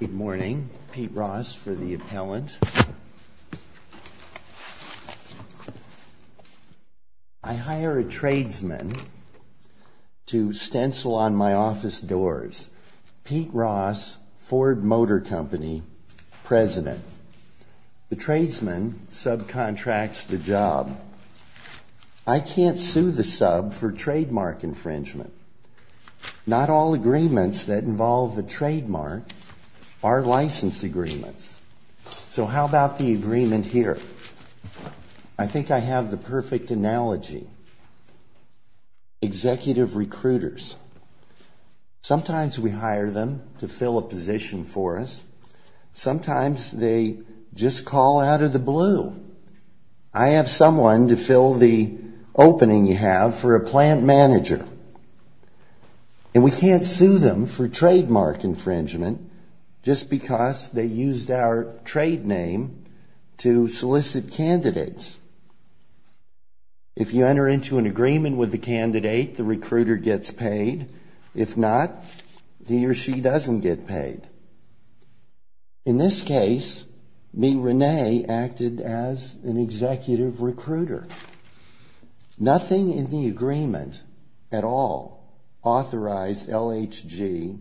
Good morning, Pete Ross for the appellant. I hire a tradesman to stencil on my office doors, Pete Ross, Ford Motor Company, President. The tradesman subcontracts the job. I can't sue the sub for trademark infringement. Not all agreements that involve a trademark are license agreements. So how about the agreement here? I think I have the perfect analogy. Executive recruiters. Sometimes we hire them to fill a position for us. Sometimes they just call out of the blue. I have someone to fill the opening you have for a plant manager. And we can't sue them for trademark infringement just because they used our trade name to solicit candidates. If you enter into an agreement with the candidate, the recruiter gets paid. If not, he or she doesn't get paid. In this case, me Renee acted as an executive recruiter. Nothing in the agreement at all authorized LHG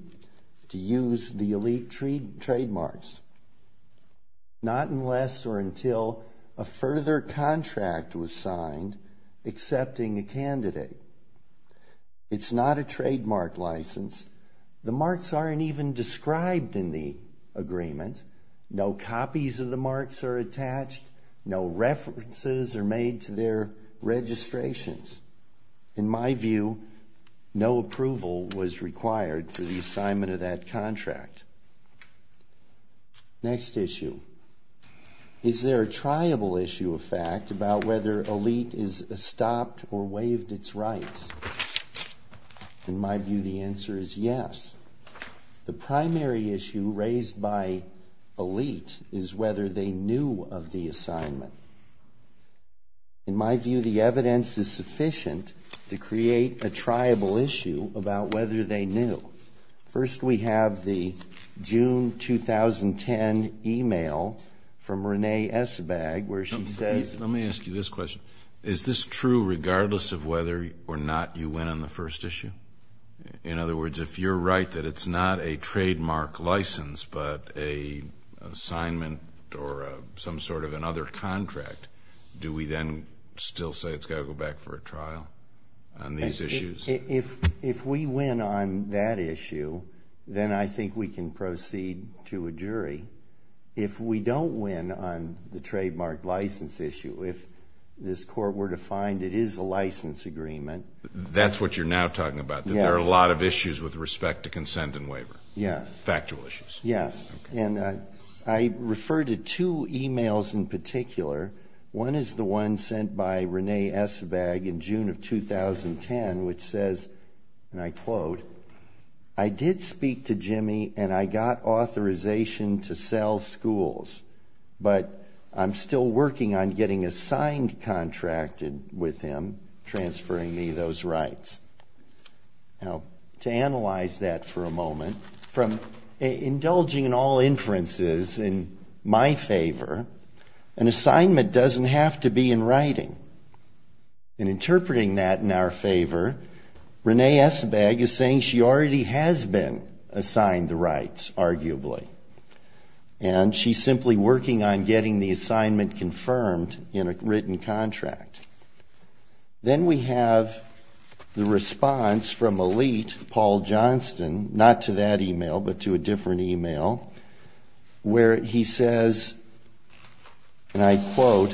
to use the Elite trademarks. Not unless or until a further contract was signed accepting a candidate. It's not a trademark license. The marks aren't even described in the agreement. No copies of the marks are attached. No references are made to their registrations. In my view, no approval was required for the assignment of that contract. Next issue. Is there a triable issue of fact about whether Elite has stopped or waived its rights? In my view, the answer is yes. The primary issue raised by Elite is whether they knew of the assignment. In my view, the evidence is sufficient to create a triable issue about whether they knew. First, we have the June 2010 e-mail from Renee Esabag where she says. Let me ask you this question. Is this true regardless of whether or not you went on the first issue? In other words, if you're right that it's not a trademark license, but an assignment or some sort of another contract, do we then still say it's got to go back for a trial on these issues? If we win on that issue, then I think we can proceed to a jury. If we don't win on the trademark license issue, if this Court were to find it is a license agreement. That's what you're now talking about, that there are a lot of issues with respect to consent and waiver. Yes. Factual issues. Yes. And I refer to two e-mails in particular. One is the one sent by Renee Esabag in June of 2010 which says, and I quote, I did speak to Jimmy and I got authorization to sell schools, but I'm still working on getting a signed contract with him transferring me those rights. Now, to analyze that for a moment, from indulging in all inferences in my favor, an assignment doesn't have to be in writing. In interpreting that in our favor, Renee Esabag is saying she already has been assigned the rights, arguably, and she's simply working on getting the assignment confirmed in a written contract. Then we have the response from a lead, Paul Johnston, not to that e-mail, but to a different e-mail where he says, and I quote,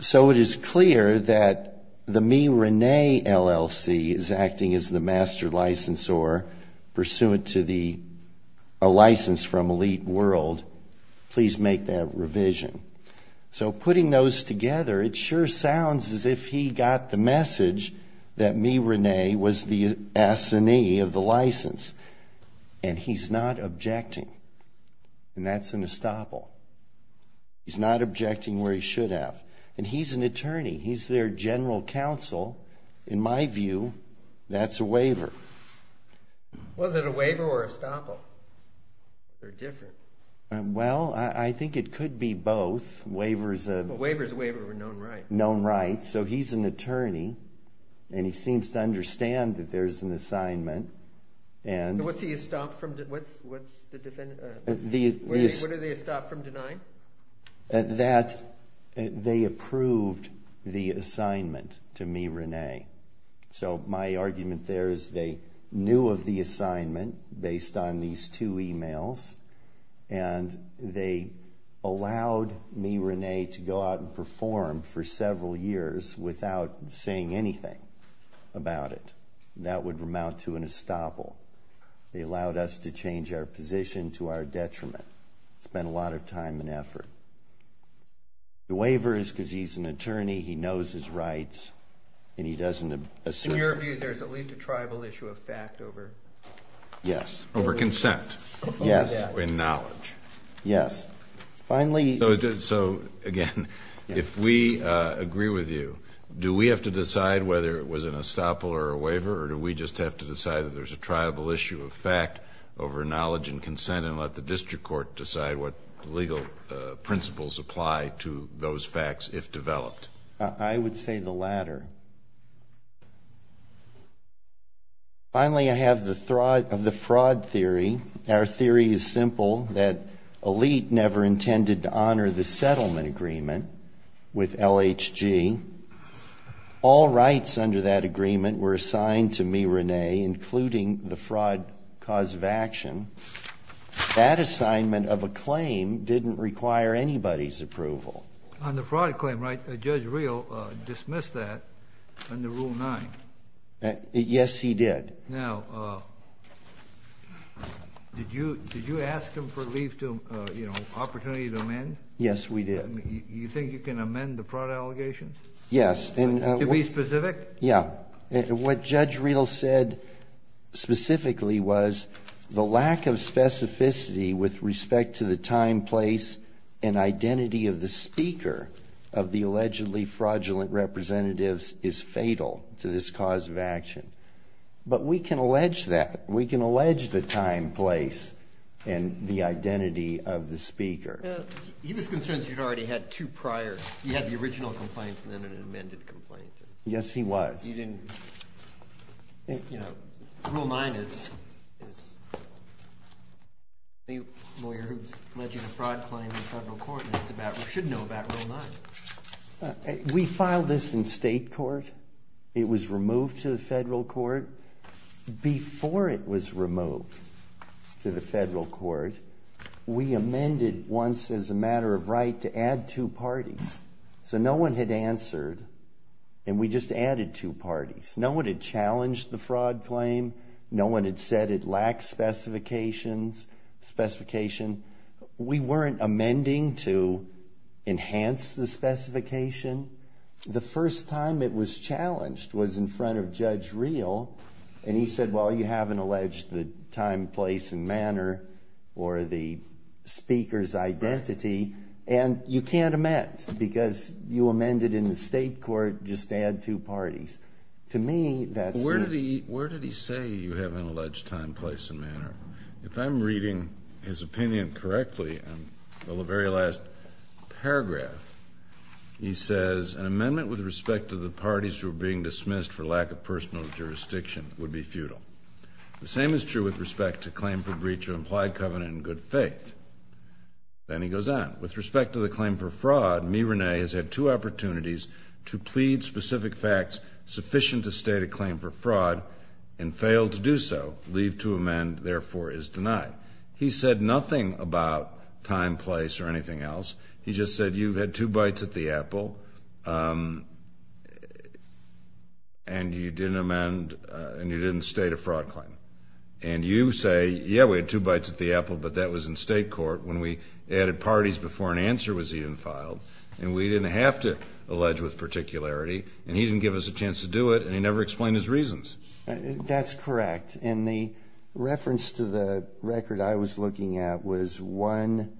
So it is clear that the MeRenee LLC is acting as the master licensor, pursuant to a license from Elite World. Please make that revision. So putting those together, it sure sounds as if he got the message that MeRenee was the assinee of the license. And he's not objecting. And that's an estoppel. He's not objecting where he should have. And he's an attorney. He's their general counsel. In my view, that's a waiver. Was it a waiver or estoppel? They're different. Well, I think it could be both. A waiver is a waiver of a known right. Known right. So he's an attorney, and he seems to understand that there's an assignment. What's the estoppel from denying? That they approved the assignment to MeRenee. So my argument there is they knew of the assignment based on these two e-mails, and they allowed MeRenee to go out and perform for several years without saying anything about it. That would amount to an estoppel. They allowed us to change our position to our detriment. Spent a lot of time and effort. The waiver is because he's an attorney, he knows his rights, and he doesn't assume. In your view, there's at least a tribal issue of fact over consent and knowledge. Yes. So, again, if we agree with you, do we have to decide whether it was an estoppel or a waiver, or do we just have to decide that there's a tribal issue of fact over knowledge and consent and let the district court decide what legal principles apply to those facts if developed? I would say the latter. Finally, I have the fraud theory. Our theory is simple, that Elite never intended to honor the settlement agreement with LHG. All rights under that agreement were assigned to MeRenee, including the fraud cause of action. That assignment of a claim didn't require anybody's approval. On the fraud claim, right, Judge Reel dismissed that under Rule 9. Yes, he did. Now, did you ask him for an opportunity to amend? Yes, we did. You think you can amend the fraud allegations? Yes. To be specific? Yeah. What Judge Reel said specifically was the lack of specificity with respect to the time, place, and identity of the speaker of the allegedly fraudulent representatives is fatal to this cause of action. But we can allege that. We can allege the time, place, and the identity of the speaker. He was concerned that you'd already had two prior, you had the original complaint and then an amended complaint. Yes, he was. You didn't, you know, Rule 9 is the lawyer who's alleging a fraud claim in federal court and should know about Rule 9. We filed this in state court. It was removed to the federal court. Before it was removed to the federal court, we amended once as a matter of right to add two parties. So no one had answered, and we just added two parties. No one had challenged the fraud claim. No one had said it lacked specifications. We weren't amending to enhance the specification. The first time it was challenged was in front of Judge Reel, and he said, well, you haven't alleged the time, place, and manner or the speaker's identity, and you can't amend because you amended in the state court just to add two parties. To me, that's the— Where did he say you haven't alleged time, place, and manner? If I'm reading his opinion correctly, in the very last paragraph, he says, an amendment with respect to the parties who are being dismissed for lack of personal jurisdiction would be futile. The same is true with respect to claim for breach of implied covenant in good faith. Then he goes on. With respect to the claim for fraud, me, Renee, has had two opportunities to plead specific facts sufficient to state a claim for fraud and failed to do so. Leave to amend, therefore, is denied. He said nothing about time, place, or anything else. He just said you had two bites at the apple, and you didn't amend, and you didn't state a fraud claim. And you say, yeah, we had two bites at the apple, but that was in state court when we added parties before an answer was even filed, and we didn't have to allege with particularity, and he didn't give us a chance to do it, and he never explained his reasons. That's correct, and the reference to the record I was looking at was one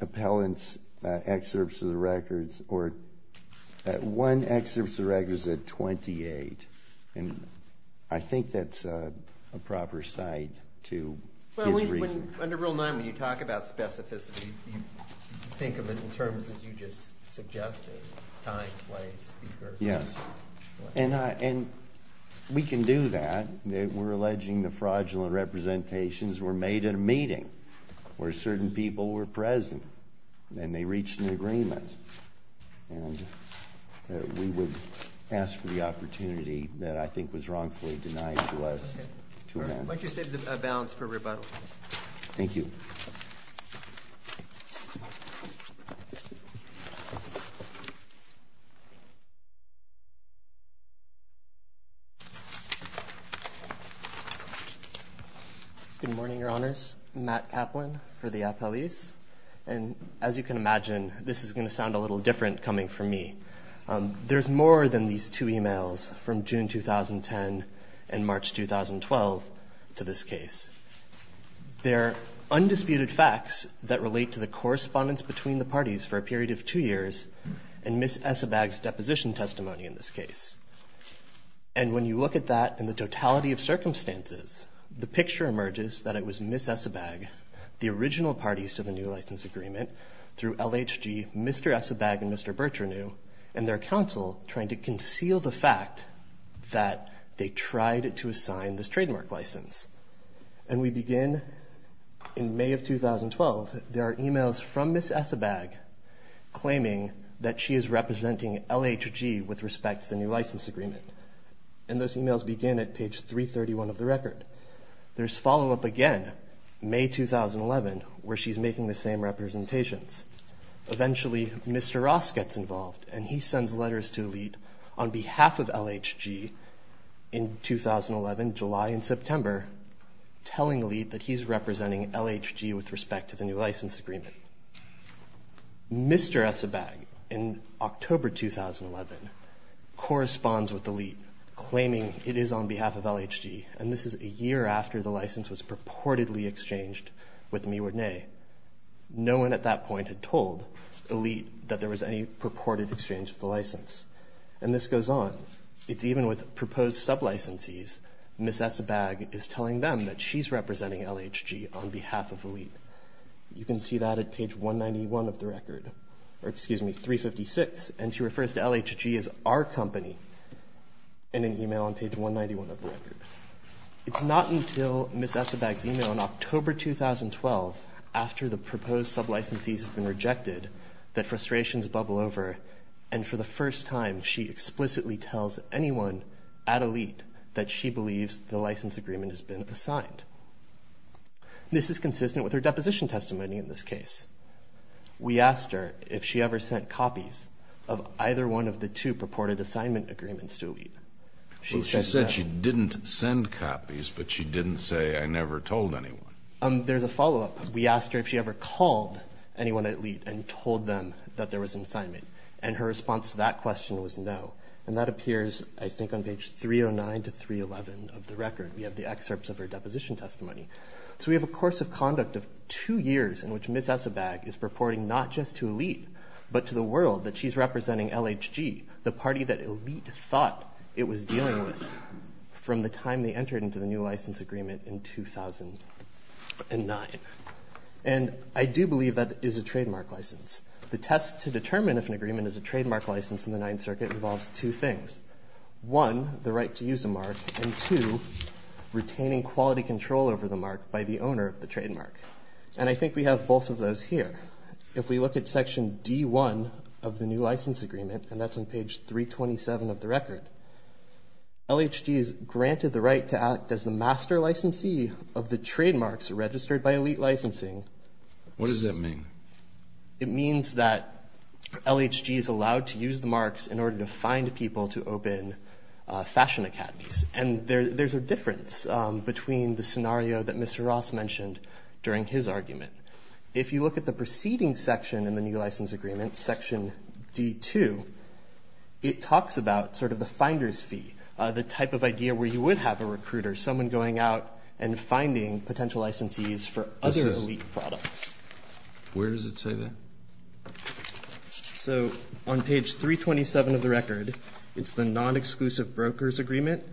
appellant's excerpts of the records, or one excerpt of the records at 28, and I think that's a proper cite to his reason. Under Rule 9, when you talk about specificity, you think of it in terms as you just suggested, time, place, speaker. Yes, and we can do that. We're alleging the fraudulent representations were made at a meeting where certain people were present, and they reached an agreement, and we would ask for the opportunity that I think was wrongfully denied to us to amend. Why don't you save the balance for rebuttal? Thank you. Good morning, Your Honors. Matt Kaplan for the appellees, and as you can imagine, this is going to sound a little different coming from me. There's more than these two e-mails from June 2010 and March 2012 to this case. They're undisputed facts that relate to the correspondence between the parties for a period of two years and Ms. Essebag's deposition testimony in this case. And when you look at that in the totality of circumstances, the picture emerges that it was Ms. Essebag, the original parties to the new license agreement, through LHG, Mr. Essebag, and Mr. Bertranew, and their counsel trying to conceal the fact that they tried to assign this trademark license. And we begin in May of 2012. There are e-mails from Ms. Essebag claiming that she is representing LHG with respect to the new license agreement, and those e-mails begin at page 331 of the record. There's follow-up again, May 2011, where she's making the same representations. Eventually, Mr. Ross gets involved, and he sends letters to LHG on behalf of LHG in 2011, July and September, telling LHG that he's representing LHG with respect to the new license agreement. Mr. Essebag, in October 2011, corresponds with LHG, claiming it is on behalf of LHG, and this is a year after the license was purportedly exchanged with Miwodne. No one at that point had told Elite that there was any purported exchange of the license. And this goes on. It's even with proposed sub-licensees. Ms. Essebag is telling them that she's representing LHG on behalf of Elite. You can see that at page 191 of the record, or excuse me, 356, and she refers to LHG as our company in an e-mail on page 191 of the record. It's not until Ms. Essebag's e-mail in October 2012, after the proposed sub-licensees have been rejected, that frustrations bubble over, and for the first time she explicitly tells anyone at Elite that she believes the license agreement has been assigned. This is consistent with her deposition testimony in this case. We asked her if she ever sent copies of either one of the two purported assignment agreements to Elite. She said she didn't send copies, but she didn't say, I never told anyone. There's a follow-up. We asked her if she ever called anyone at Elite and told them that there was an assignment, and her response to that question was no. And that appears, I think, on page 309 to 311 of the record. We have the excerpts of her deposition testimony. So we have a course of conduct of two years in which Ms. Essebag is purporting not just to Elite, but to the world that she's representing LHG, the party that Elite thought it was dealing with from the time they entered into the new license agreement in 2009. And I do believe that is a trademark license. The test to determine if an agreement is a trademark license in the Ninth Circuit involves two things. One, the right to use a mark, and two, retaining quality control over the mark by the owner of the trademark. And I think we have both of those here. If we look at section D1 of the new license agreement, and that's on page 327 of the record, LHG is granted the right to act as the master licensee of the trademarks registered by Elite Licensing. What does that mean? It means that LHG is allowed to use the marks in order to find people to open fashion academies. And there's a difference between the scenario that Mr. Ross mentioned during his argument. If you look at the preceding section in the new license agreement, section D2, it talks about sort of the finder's fee, the type of idea where you would have a recruiter, someone going out and finding potential licensees for other Elite products. Where does it say that? So on page 327 of the record, it's the non-exclusive broker's agreement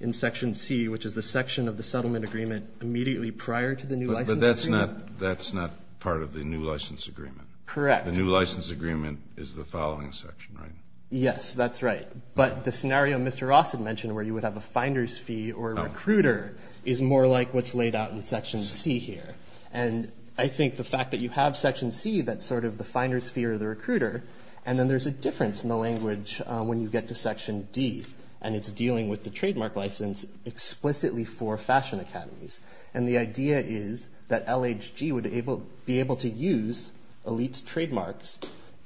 in section C, which is the section of the settlement agreement immediately prior to the new license agreement. But that's not part of the new license agreement. Correct. The new license agreement is the following section, right? Yes, that's right. But the scenario Mr. Ross had mentioned where you would have a finder's fee or a recruiter is more like what's laid out in section C here. And I think the fact that you have section C, that's sort of the finder's fee or the recruiter, and then there's a difference in the language when you get to section D, and it's dealing with the trademark license explicitly for fashion academies. And the idea is that LHG would be able to use Elite's trademarks,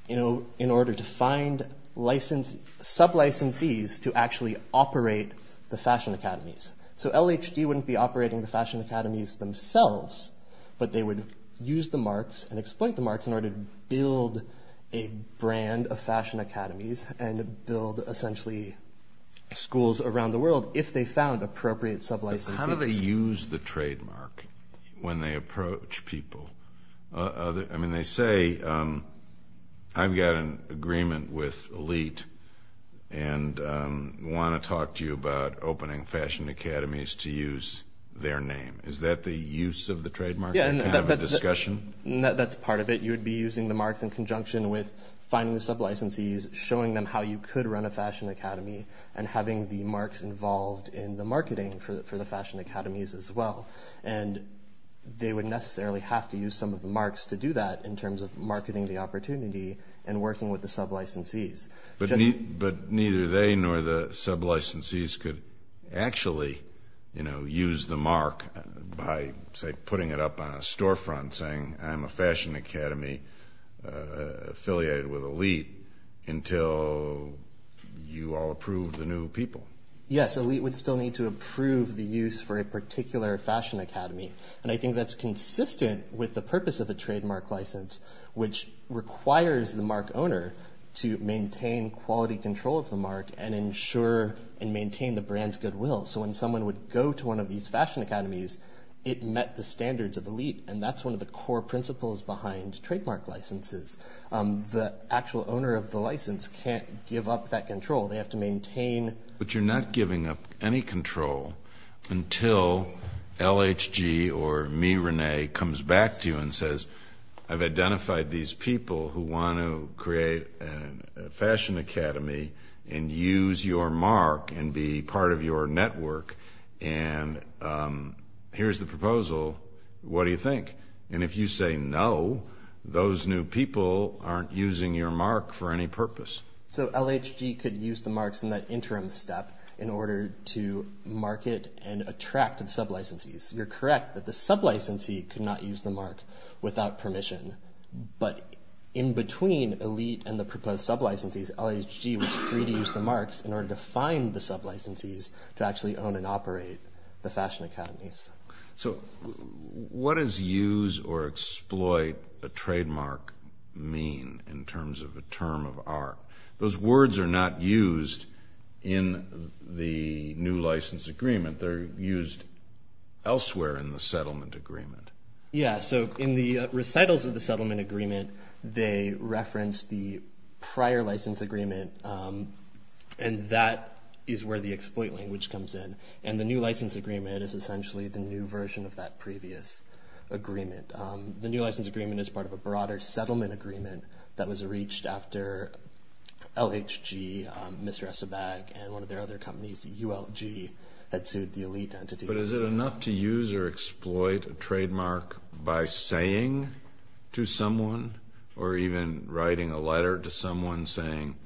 you know, in order to find sub-licensees to actually operate the fashion academies. So LHG wouldn't be operating the fashion academies themselves, but they would use the marks and exploit the marks in order to build a brand of fashion academies and build essentially schools around the world if they found appropriate sub-licensees. How do they use the trademark when they approach people? I mean, they say, I've got an agreement with Elite and want to talk to you about opening fashion academies to use their name. Is that the use of the trademark or kind of a discussion? That's part of it. You would be using the marks in conjunction with finding the sub-licensees, showing them how you could run a fashion academy, and having the marks involved in the marketing for the fashion academies as well. And they would necessarily have to use some of the marks to do that in terms of marketing the opportunity and working with the sub-licensees. But neither they nor the sub-licensees could actually, you know, use the mark by, say, putting it up on a storefront saying, I'm a fashion academy affiliated with Elite until you all approve the new people. Yes, Elite would still need to approve the use for a particular fashion academy. And I think that's consistent with the purpose of a trademark license, which requires the mark owner to maintain quality control of the mark and ensure and maintain the brand's goodwill. So when someone would go to one of these fashion academies, it met the standards of Elite. And that's one of the core principles behind trademark licenses. The actual owner of the license can't give up that control. They have to maintain. But you're not giving up any control until LHG or me, Rene, comes back to you and says, I've identified these people who want to create a fashion academy and use your mark and be part of your network, and here's the proposal. What do you think? And if you say no, those new people aren't using your mark for any purpose. So LHG could use the marks in that interim step in order to market and attract the sublicensees. You're correct that the sublicensee could not use the mark without permission. But in between Elite and the proposed sublicensees, LHG was free to use the marks in order to find the sublicensees to actually own and operate the fashion academies. So what does use or exploit a trademark mean in terms of a term of art? Those words are not used in the new license agreement. They're used elsewhere in the settlement agreement. Yeah. So in the recitals of the settlement agreement, they reference the prior license agreement, and that is where the exploit language comes in. And the new license agreement is essentially the new version of that previous agreement. The new license agreement is part of a broader settlement agreement that was reached after LHG, Mr. Essobag, and one of their other companies, ULG, had sued the Elite entity. But is it enough to use or exploit a trademark by saying to someone or even writing a letter to someone saying,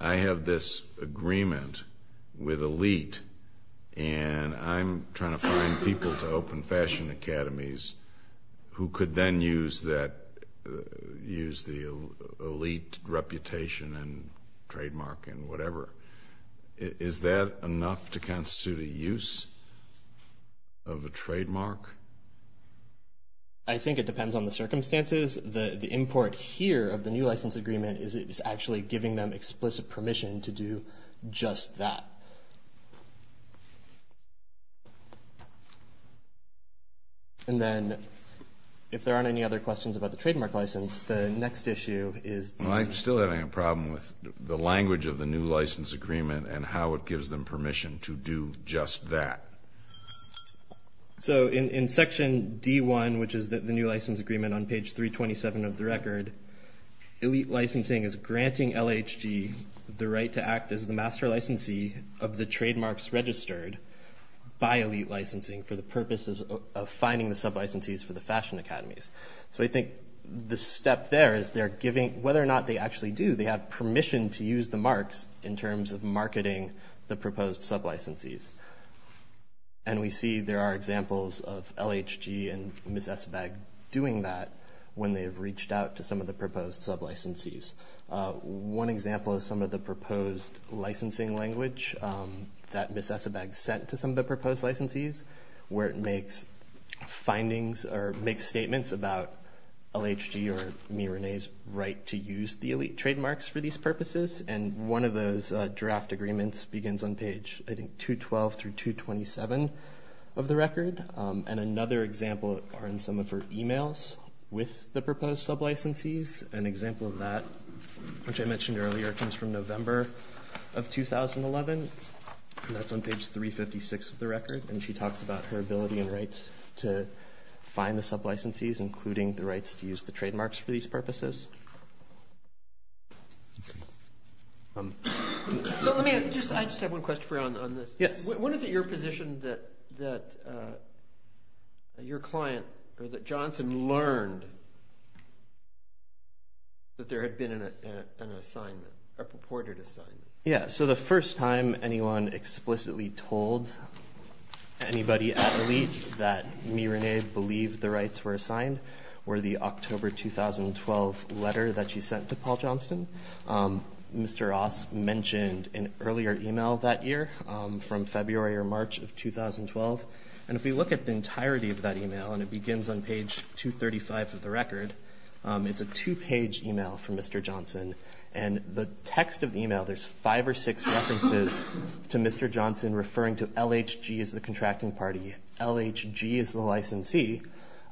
I have this agreement with Elite and I'm trying to find people to open fashion academies who could then use the Elite reputation and trademark and whatever? Is that enough to constitute a use of a trademark? I think it depends on the circumstances. The import here of the new license agreement is it's actually giving them explicit permission to do just that. And then if there aren't any other questions about the trademark license, the next issue is Well, I'm still having a problem with the language of the new license agreement and how it gives them permission to do just that. So in section D1, which is the new license agreement on page 327 of the record, Elite Licensing is granting LHG the right to act as the master licensee of the trademarks registered by Elite Licensing for the purposes of finding the sub-licensees for the fashion academies. So I think the step there is they're giving, whether or not they actually do, they have permission to use the marks in terms of marketing the proposed sub-licensees. And we see there are examples of LHG and Ms. Esabag doing that when they have reached out to some of the proposed sub-licensees. One example is some of the proposed licensing language that Ms. Esabag sent to some of the proposed licensees where it makes findings or makes statements about LHG or me, Renee's right to use the Elite trademarks for these purposes. And one of those draft agreements begins on page, I think, 212 through 227 of the record. And another example are in some of her emails with the proposed sub-licensees. An example of that, which I mentioned earlier, comes from November of 2011. And that's on page 356 of the record. And she talks about her ability and rights to find the sub-licensees, including the rights to use the trademarks for these purposes. So let me just, I just have one question for you on this. Yes. When is it your position that your client or that Johnson learned that there had been an assignment, a purported assignment? Yeah. So the first time anyone explicitly told anybody at Elite that me, Renee, believed the rights were assigned were the October 2012 letter that she sent to Paul Johnson. Mr. Ross mentioned an earlier email that year from February or March of 2012. And if we look at the entirety of that email, and it begins on page 235 of the record, it's a two-page email from Mr. Johnson. And the text of the email, there's five or six references to Mr. Johnson referring to LHG as the contracting party, LHG as the licensee.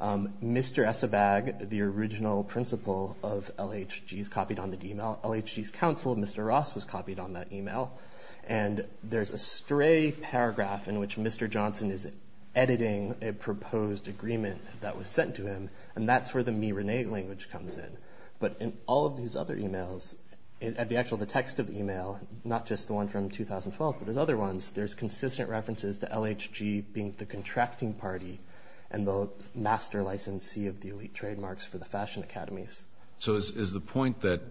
Mr. Esabag, the original principal of LHG, is copied on that email. LHG's counsel, Mr. Ross, was copied on that email. And there's a stray paragraph in which Mr. Johnson is editing a proposed agreement that was sent to him. And that's where the me, Renee language comes in. But in all of these other emails, at the actual text of the email, not just the one from 2012, but there's other ones, there's consistent references to LHG being the contracting party and the master licensee of the Elite trademarks for the fashion academies. So is the point that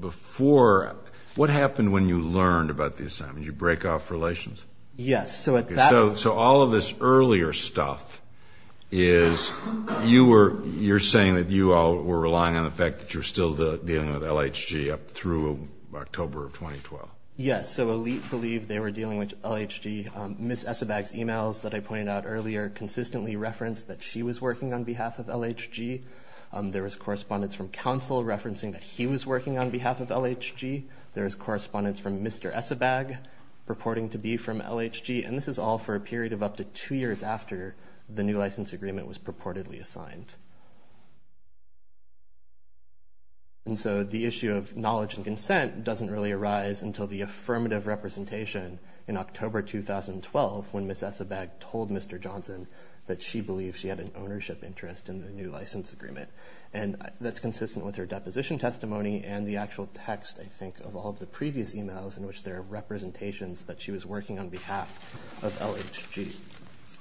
before, what happened when you learned about the assignment? Did you break off relations? Yes. So all of this earlier stuff is you were saying that you all were relying on the fact that you're still dealing with LHG up through October of 2012. Yes. So Elite believed they were dealing with LHG. Ms. Esabag's emails that I pointed out earlier consistently referenced that she was working on behalf of LHG. There was correspondence from counsel referencing that he was working on behalf of LHG. There was correspondence from Mr. Esabag purporting to be from LHG. And this is all for a period of up to two years after the new license agreement was purportedly assigned. And so the issue of knowledge and consent doesn't really arise until the affirmative representation in October 2012, when Ms. Esabag told Mr. Johnson that she believed she had an ownership interest in the new license agreement. And that's consistent with her deposition testimony and the actual text, I think, of all of the previous emails in which there are representations that she was working on behalf of LHG.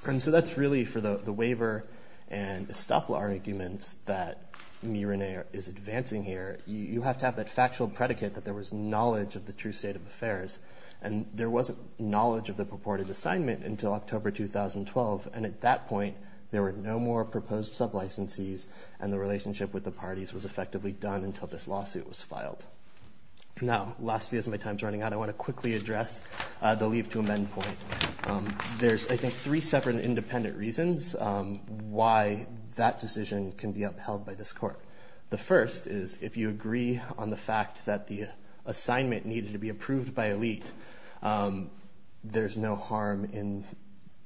And so that's really for the waiver and the stop-law arguments that me, Renee, is advancing here. You have to have that factual predicate that there was knowledge of the true state of affairs. And there wasn't knowledge of the purported assignment until October 2012. And at that point, there were no more proposed sub-licensees, and the relationship with the parties was effectively done until this lawsuit was filed. Now, lastly, as my time is running out, I want to quickly address the leave to amend point. There's, I think, three separate and independent reasons why that decision can be upheld by this court. The first is if you agree on the fact that the assignment needed to be approved by elite, there's no harm in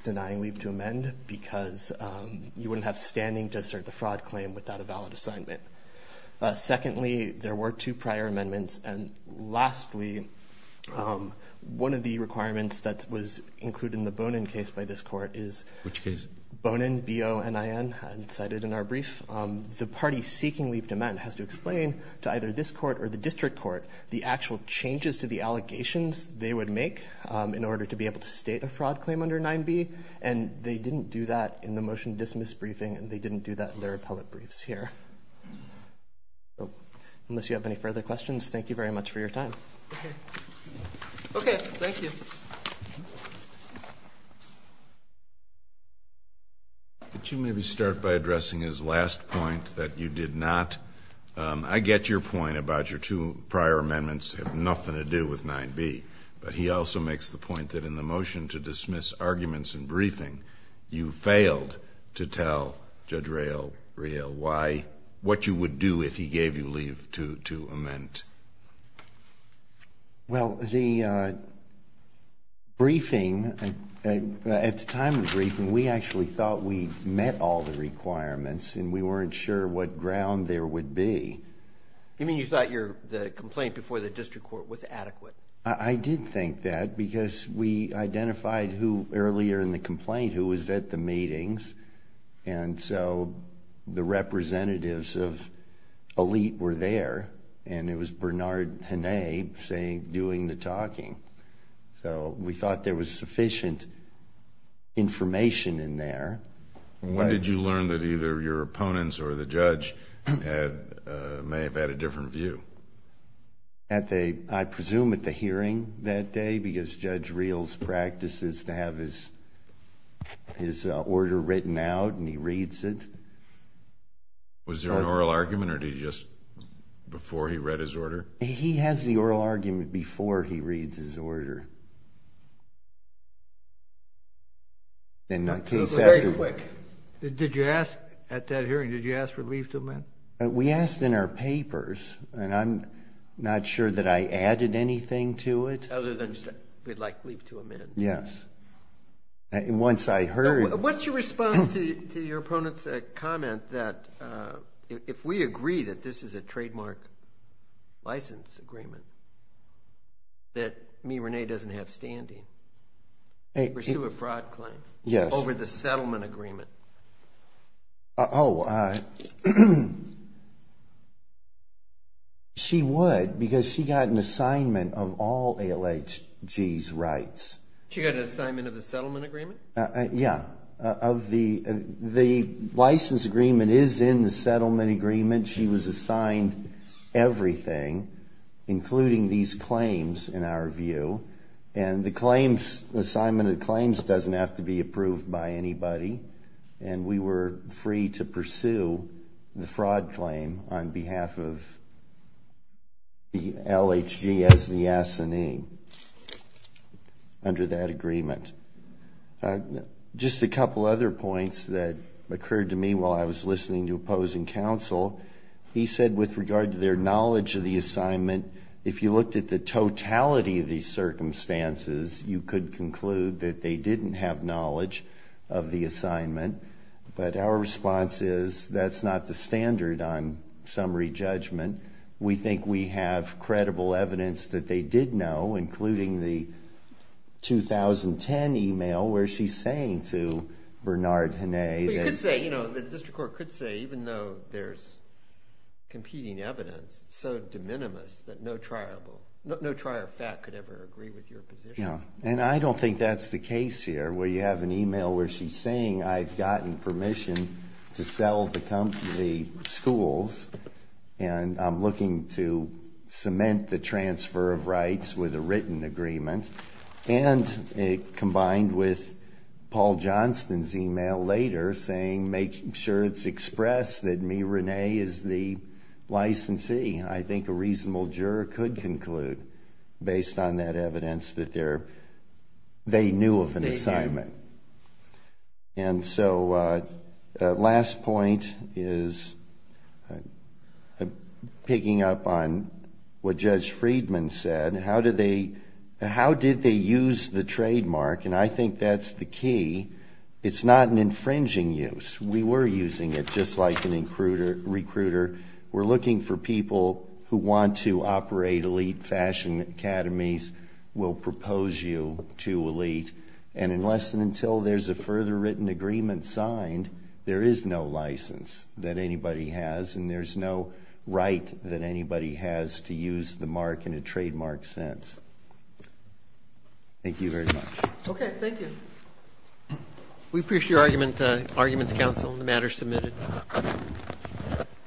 denying leave to amend because you wouldn't have standing to assert the fraud claim without a valid assignment. Secondly, there were two prior amendments. And lastly, one of the requirements that was included in the Bonin case by this court is- Which case? Bonin, B-O-N-I-N, cited in our brief. The party seeking leave to amend has to explain to either this court or the district court the actual changes to the allegations they would make in order to be able to state a fraud claim under 9B. And they didn't do that in the motion to dismiss briefing, and they didn't do that in their appellate briefs here. Unless you have any further questions, thank you very much for your time. Okay, thank you. Could you maybe start by addressing his last point, that you did not- The prior amendments have nothing to do with 9B. But he also makes the point that in the motion to dismiss arguments in briefing, you failed to tell Judge Rayl what you would do if he gave you leave to amend. Well, the briefing, at the time of the briefing, we actually thought we met all the requirements and we weren't sure what ground there would be. You mean you thought the complaint before the district court was adequate? I did think that, because we identified who, earlier in the complaint, who was at the meetings. And so, the representatives of Elite were there, and it was Bernard Henné doing the talking. So, we thought there was sufficient information in there. When did you learn that either your opponents or the judge may have had a different view? I presume at the hearing that day, because Judge Rayl's practice is to have his order written out, and he reads it. Was there an oral argument, or did he just, before he read his order? He has the oral argument before he reads his order. It was very quick. At that hearing, did you ask for leave to amend? We asked in our papers, and I'm not sure that I added anything to it. Other than, we'd like leave to amend. Yes. What's your response to your opponent's comment that if we agree that this is a trademark license agreement, that me, Renee, doesn't have standing to pursue a fraud claim over the settlement agreement? She would, because she got an assignment of all ALHG's rights. She got an assignment of the settlement agreement? Yeah. The license agreement is in the settlement agreement. She was assigned everything, including these claims, in our view, and the assignment of claims doesn't have to be approved by anybody, and we were free to pursue the fraud claim on behalf of the LHG as the assignee under that agreement. Just a couple other points that occurred to me while I was listening to opposing counsel. He said with regard to their knowledge of the assignment, if you looked at the totality of these circumstances, you could conclude that they didn't have knowledge of the assignment, but our response is that's not the standard on summary judgment. We think we have credible evidence that they did know, including the 2010 email where she's saying to Bernard Hene. You could say, the district court could say, even though there's competing evidence, it's so de minimis that no trier of fat could ever agree with your position. Yeah, and I don't think that's the case here, where you have an email where she's saying I've gotten permission to sell the schools, and I'm looking to cement the transfer of rights with a written agreement, and combined with Paul Johnston's email later saying make sure it's expressed that me, Renee, is the licensee. I think a reasonable juror could conclude, based on that evidence, that they knew of an assignment. And so the last point is picking up on what Judge Friedman said. How did they use the trademark? And I think that's the key. It's not an infringing use. We were using it, just like an recruiter. We're looking for people who want to operate elite fashion academies, will propose you to elite, and unless and until there's a further written agreement signed, there is no license that anybody has, and there's no right that anybody has to use the mark in a trademark sense. Thank you very much. Okay, thank you. We appreciate your arguments, counsel, on the matter submitted.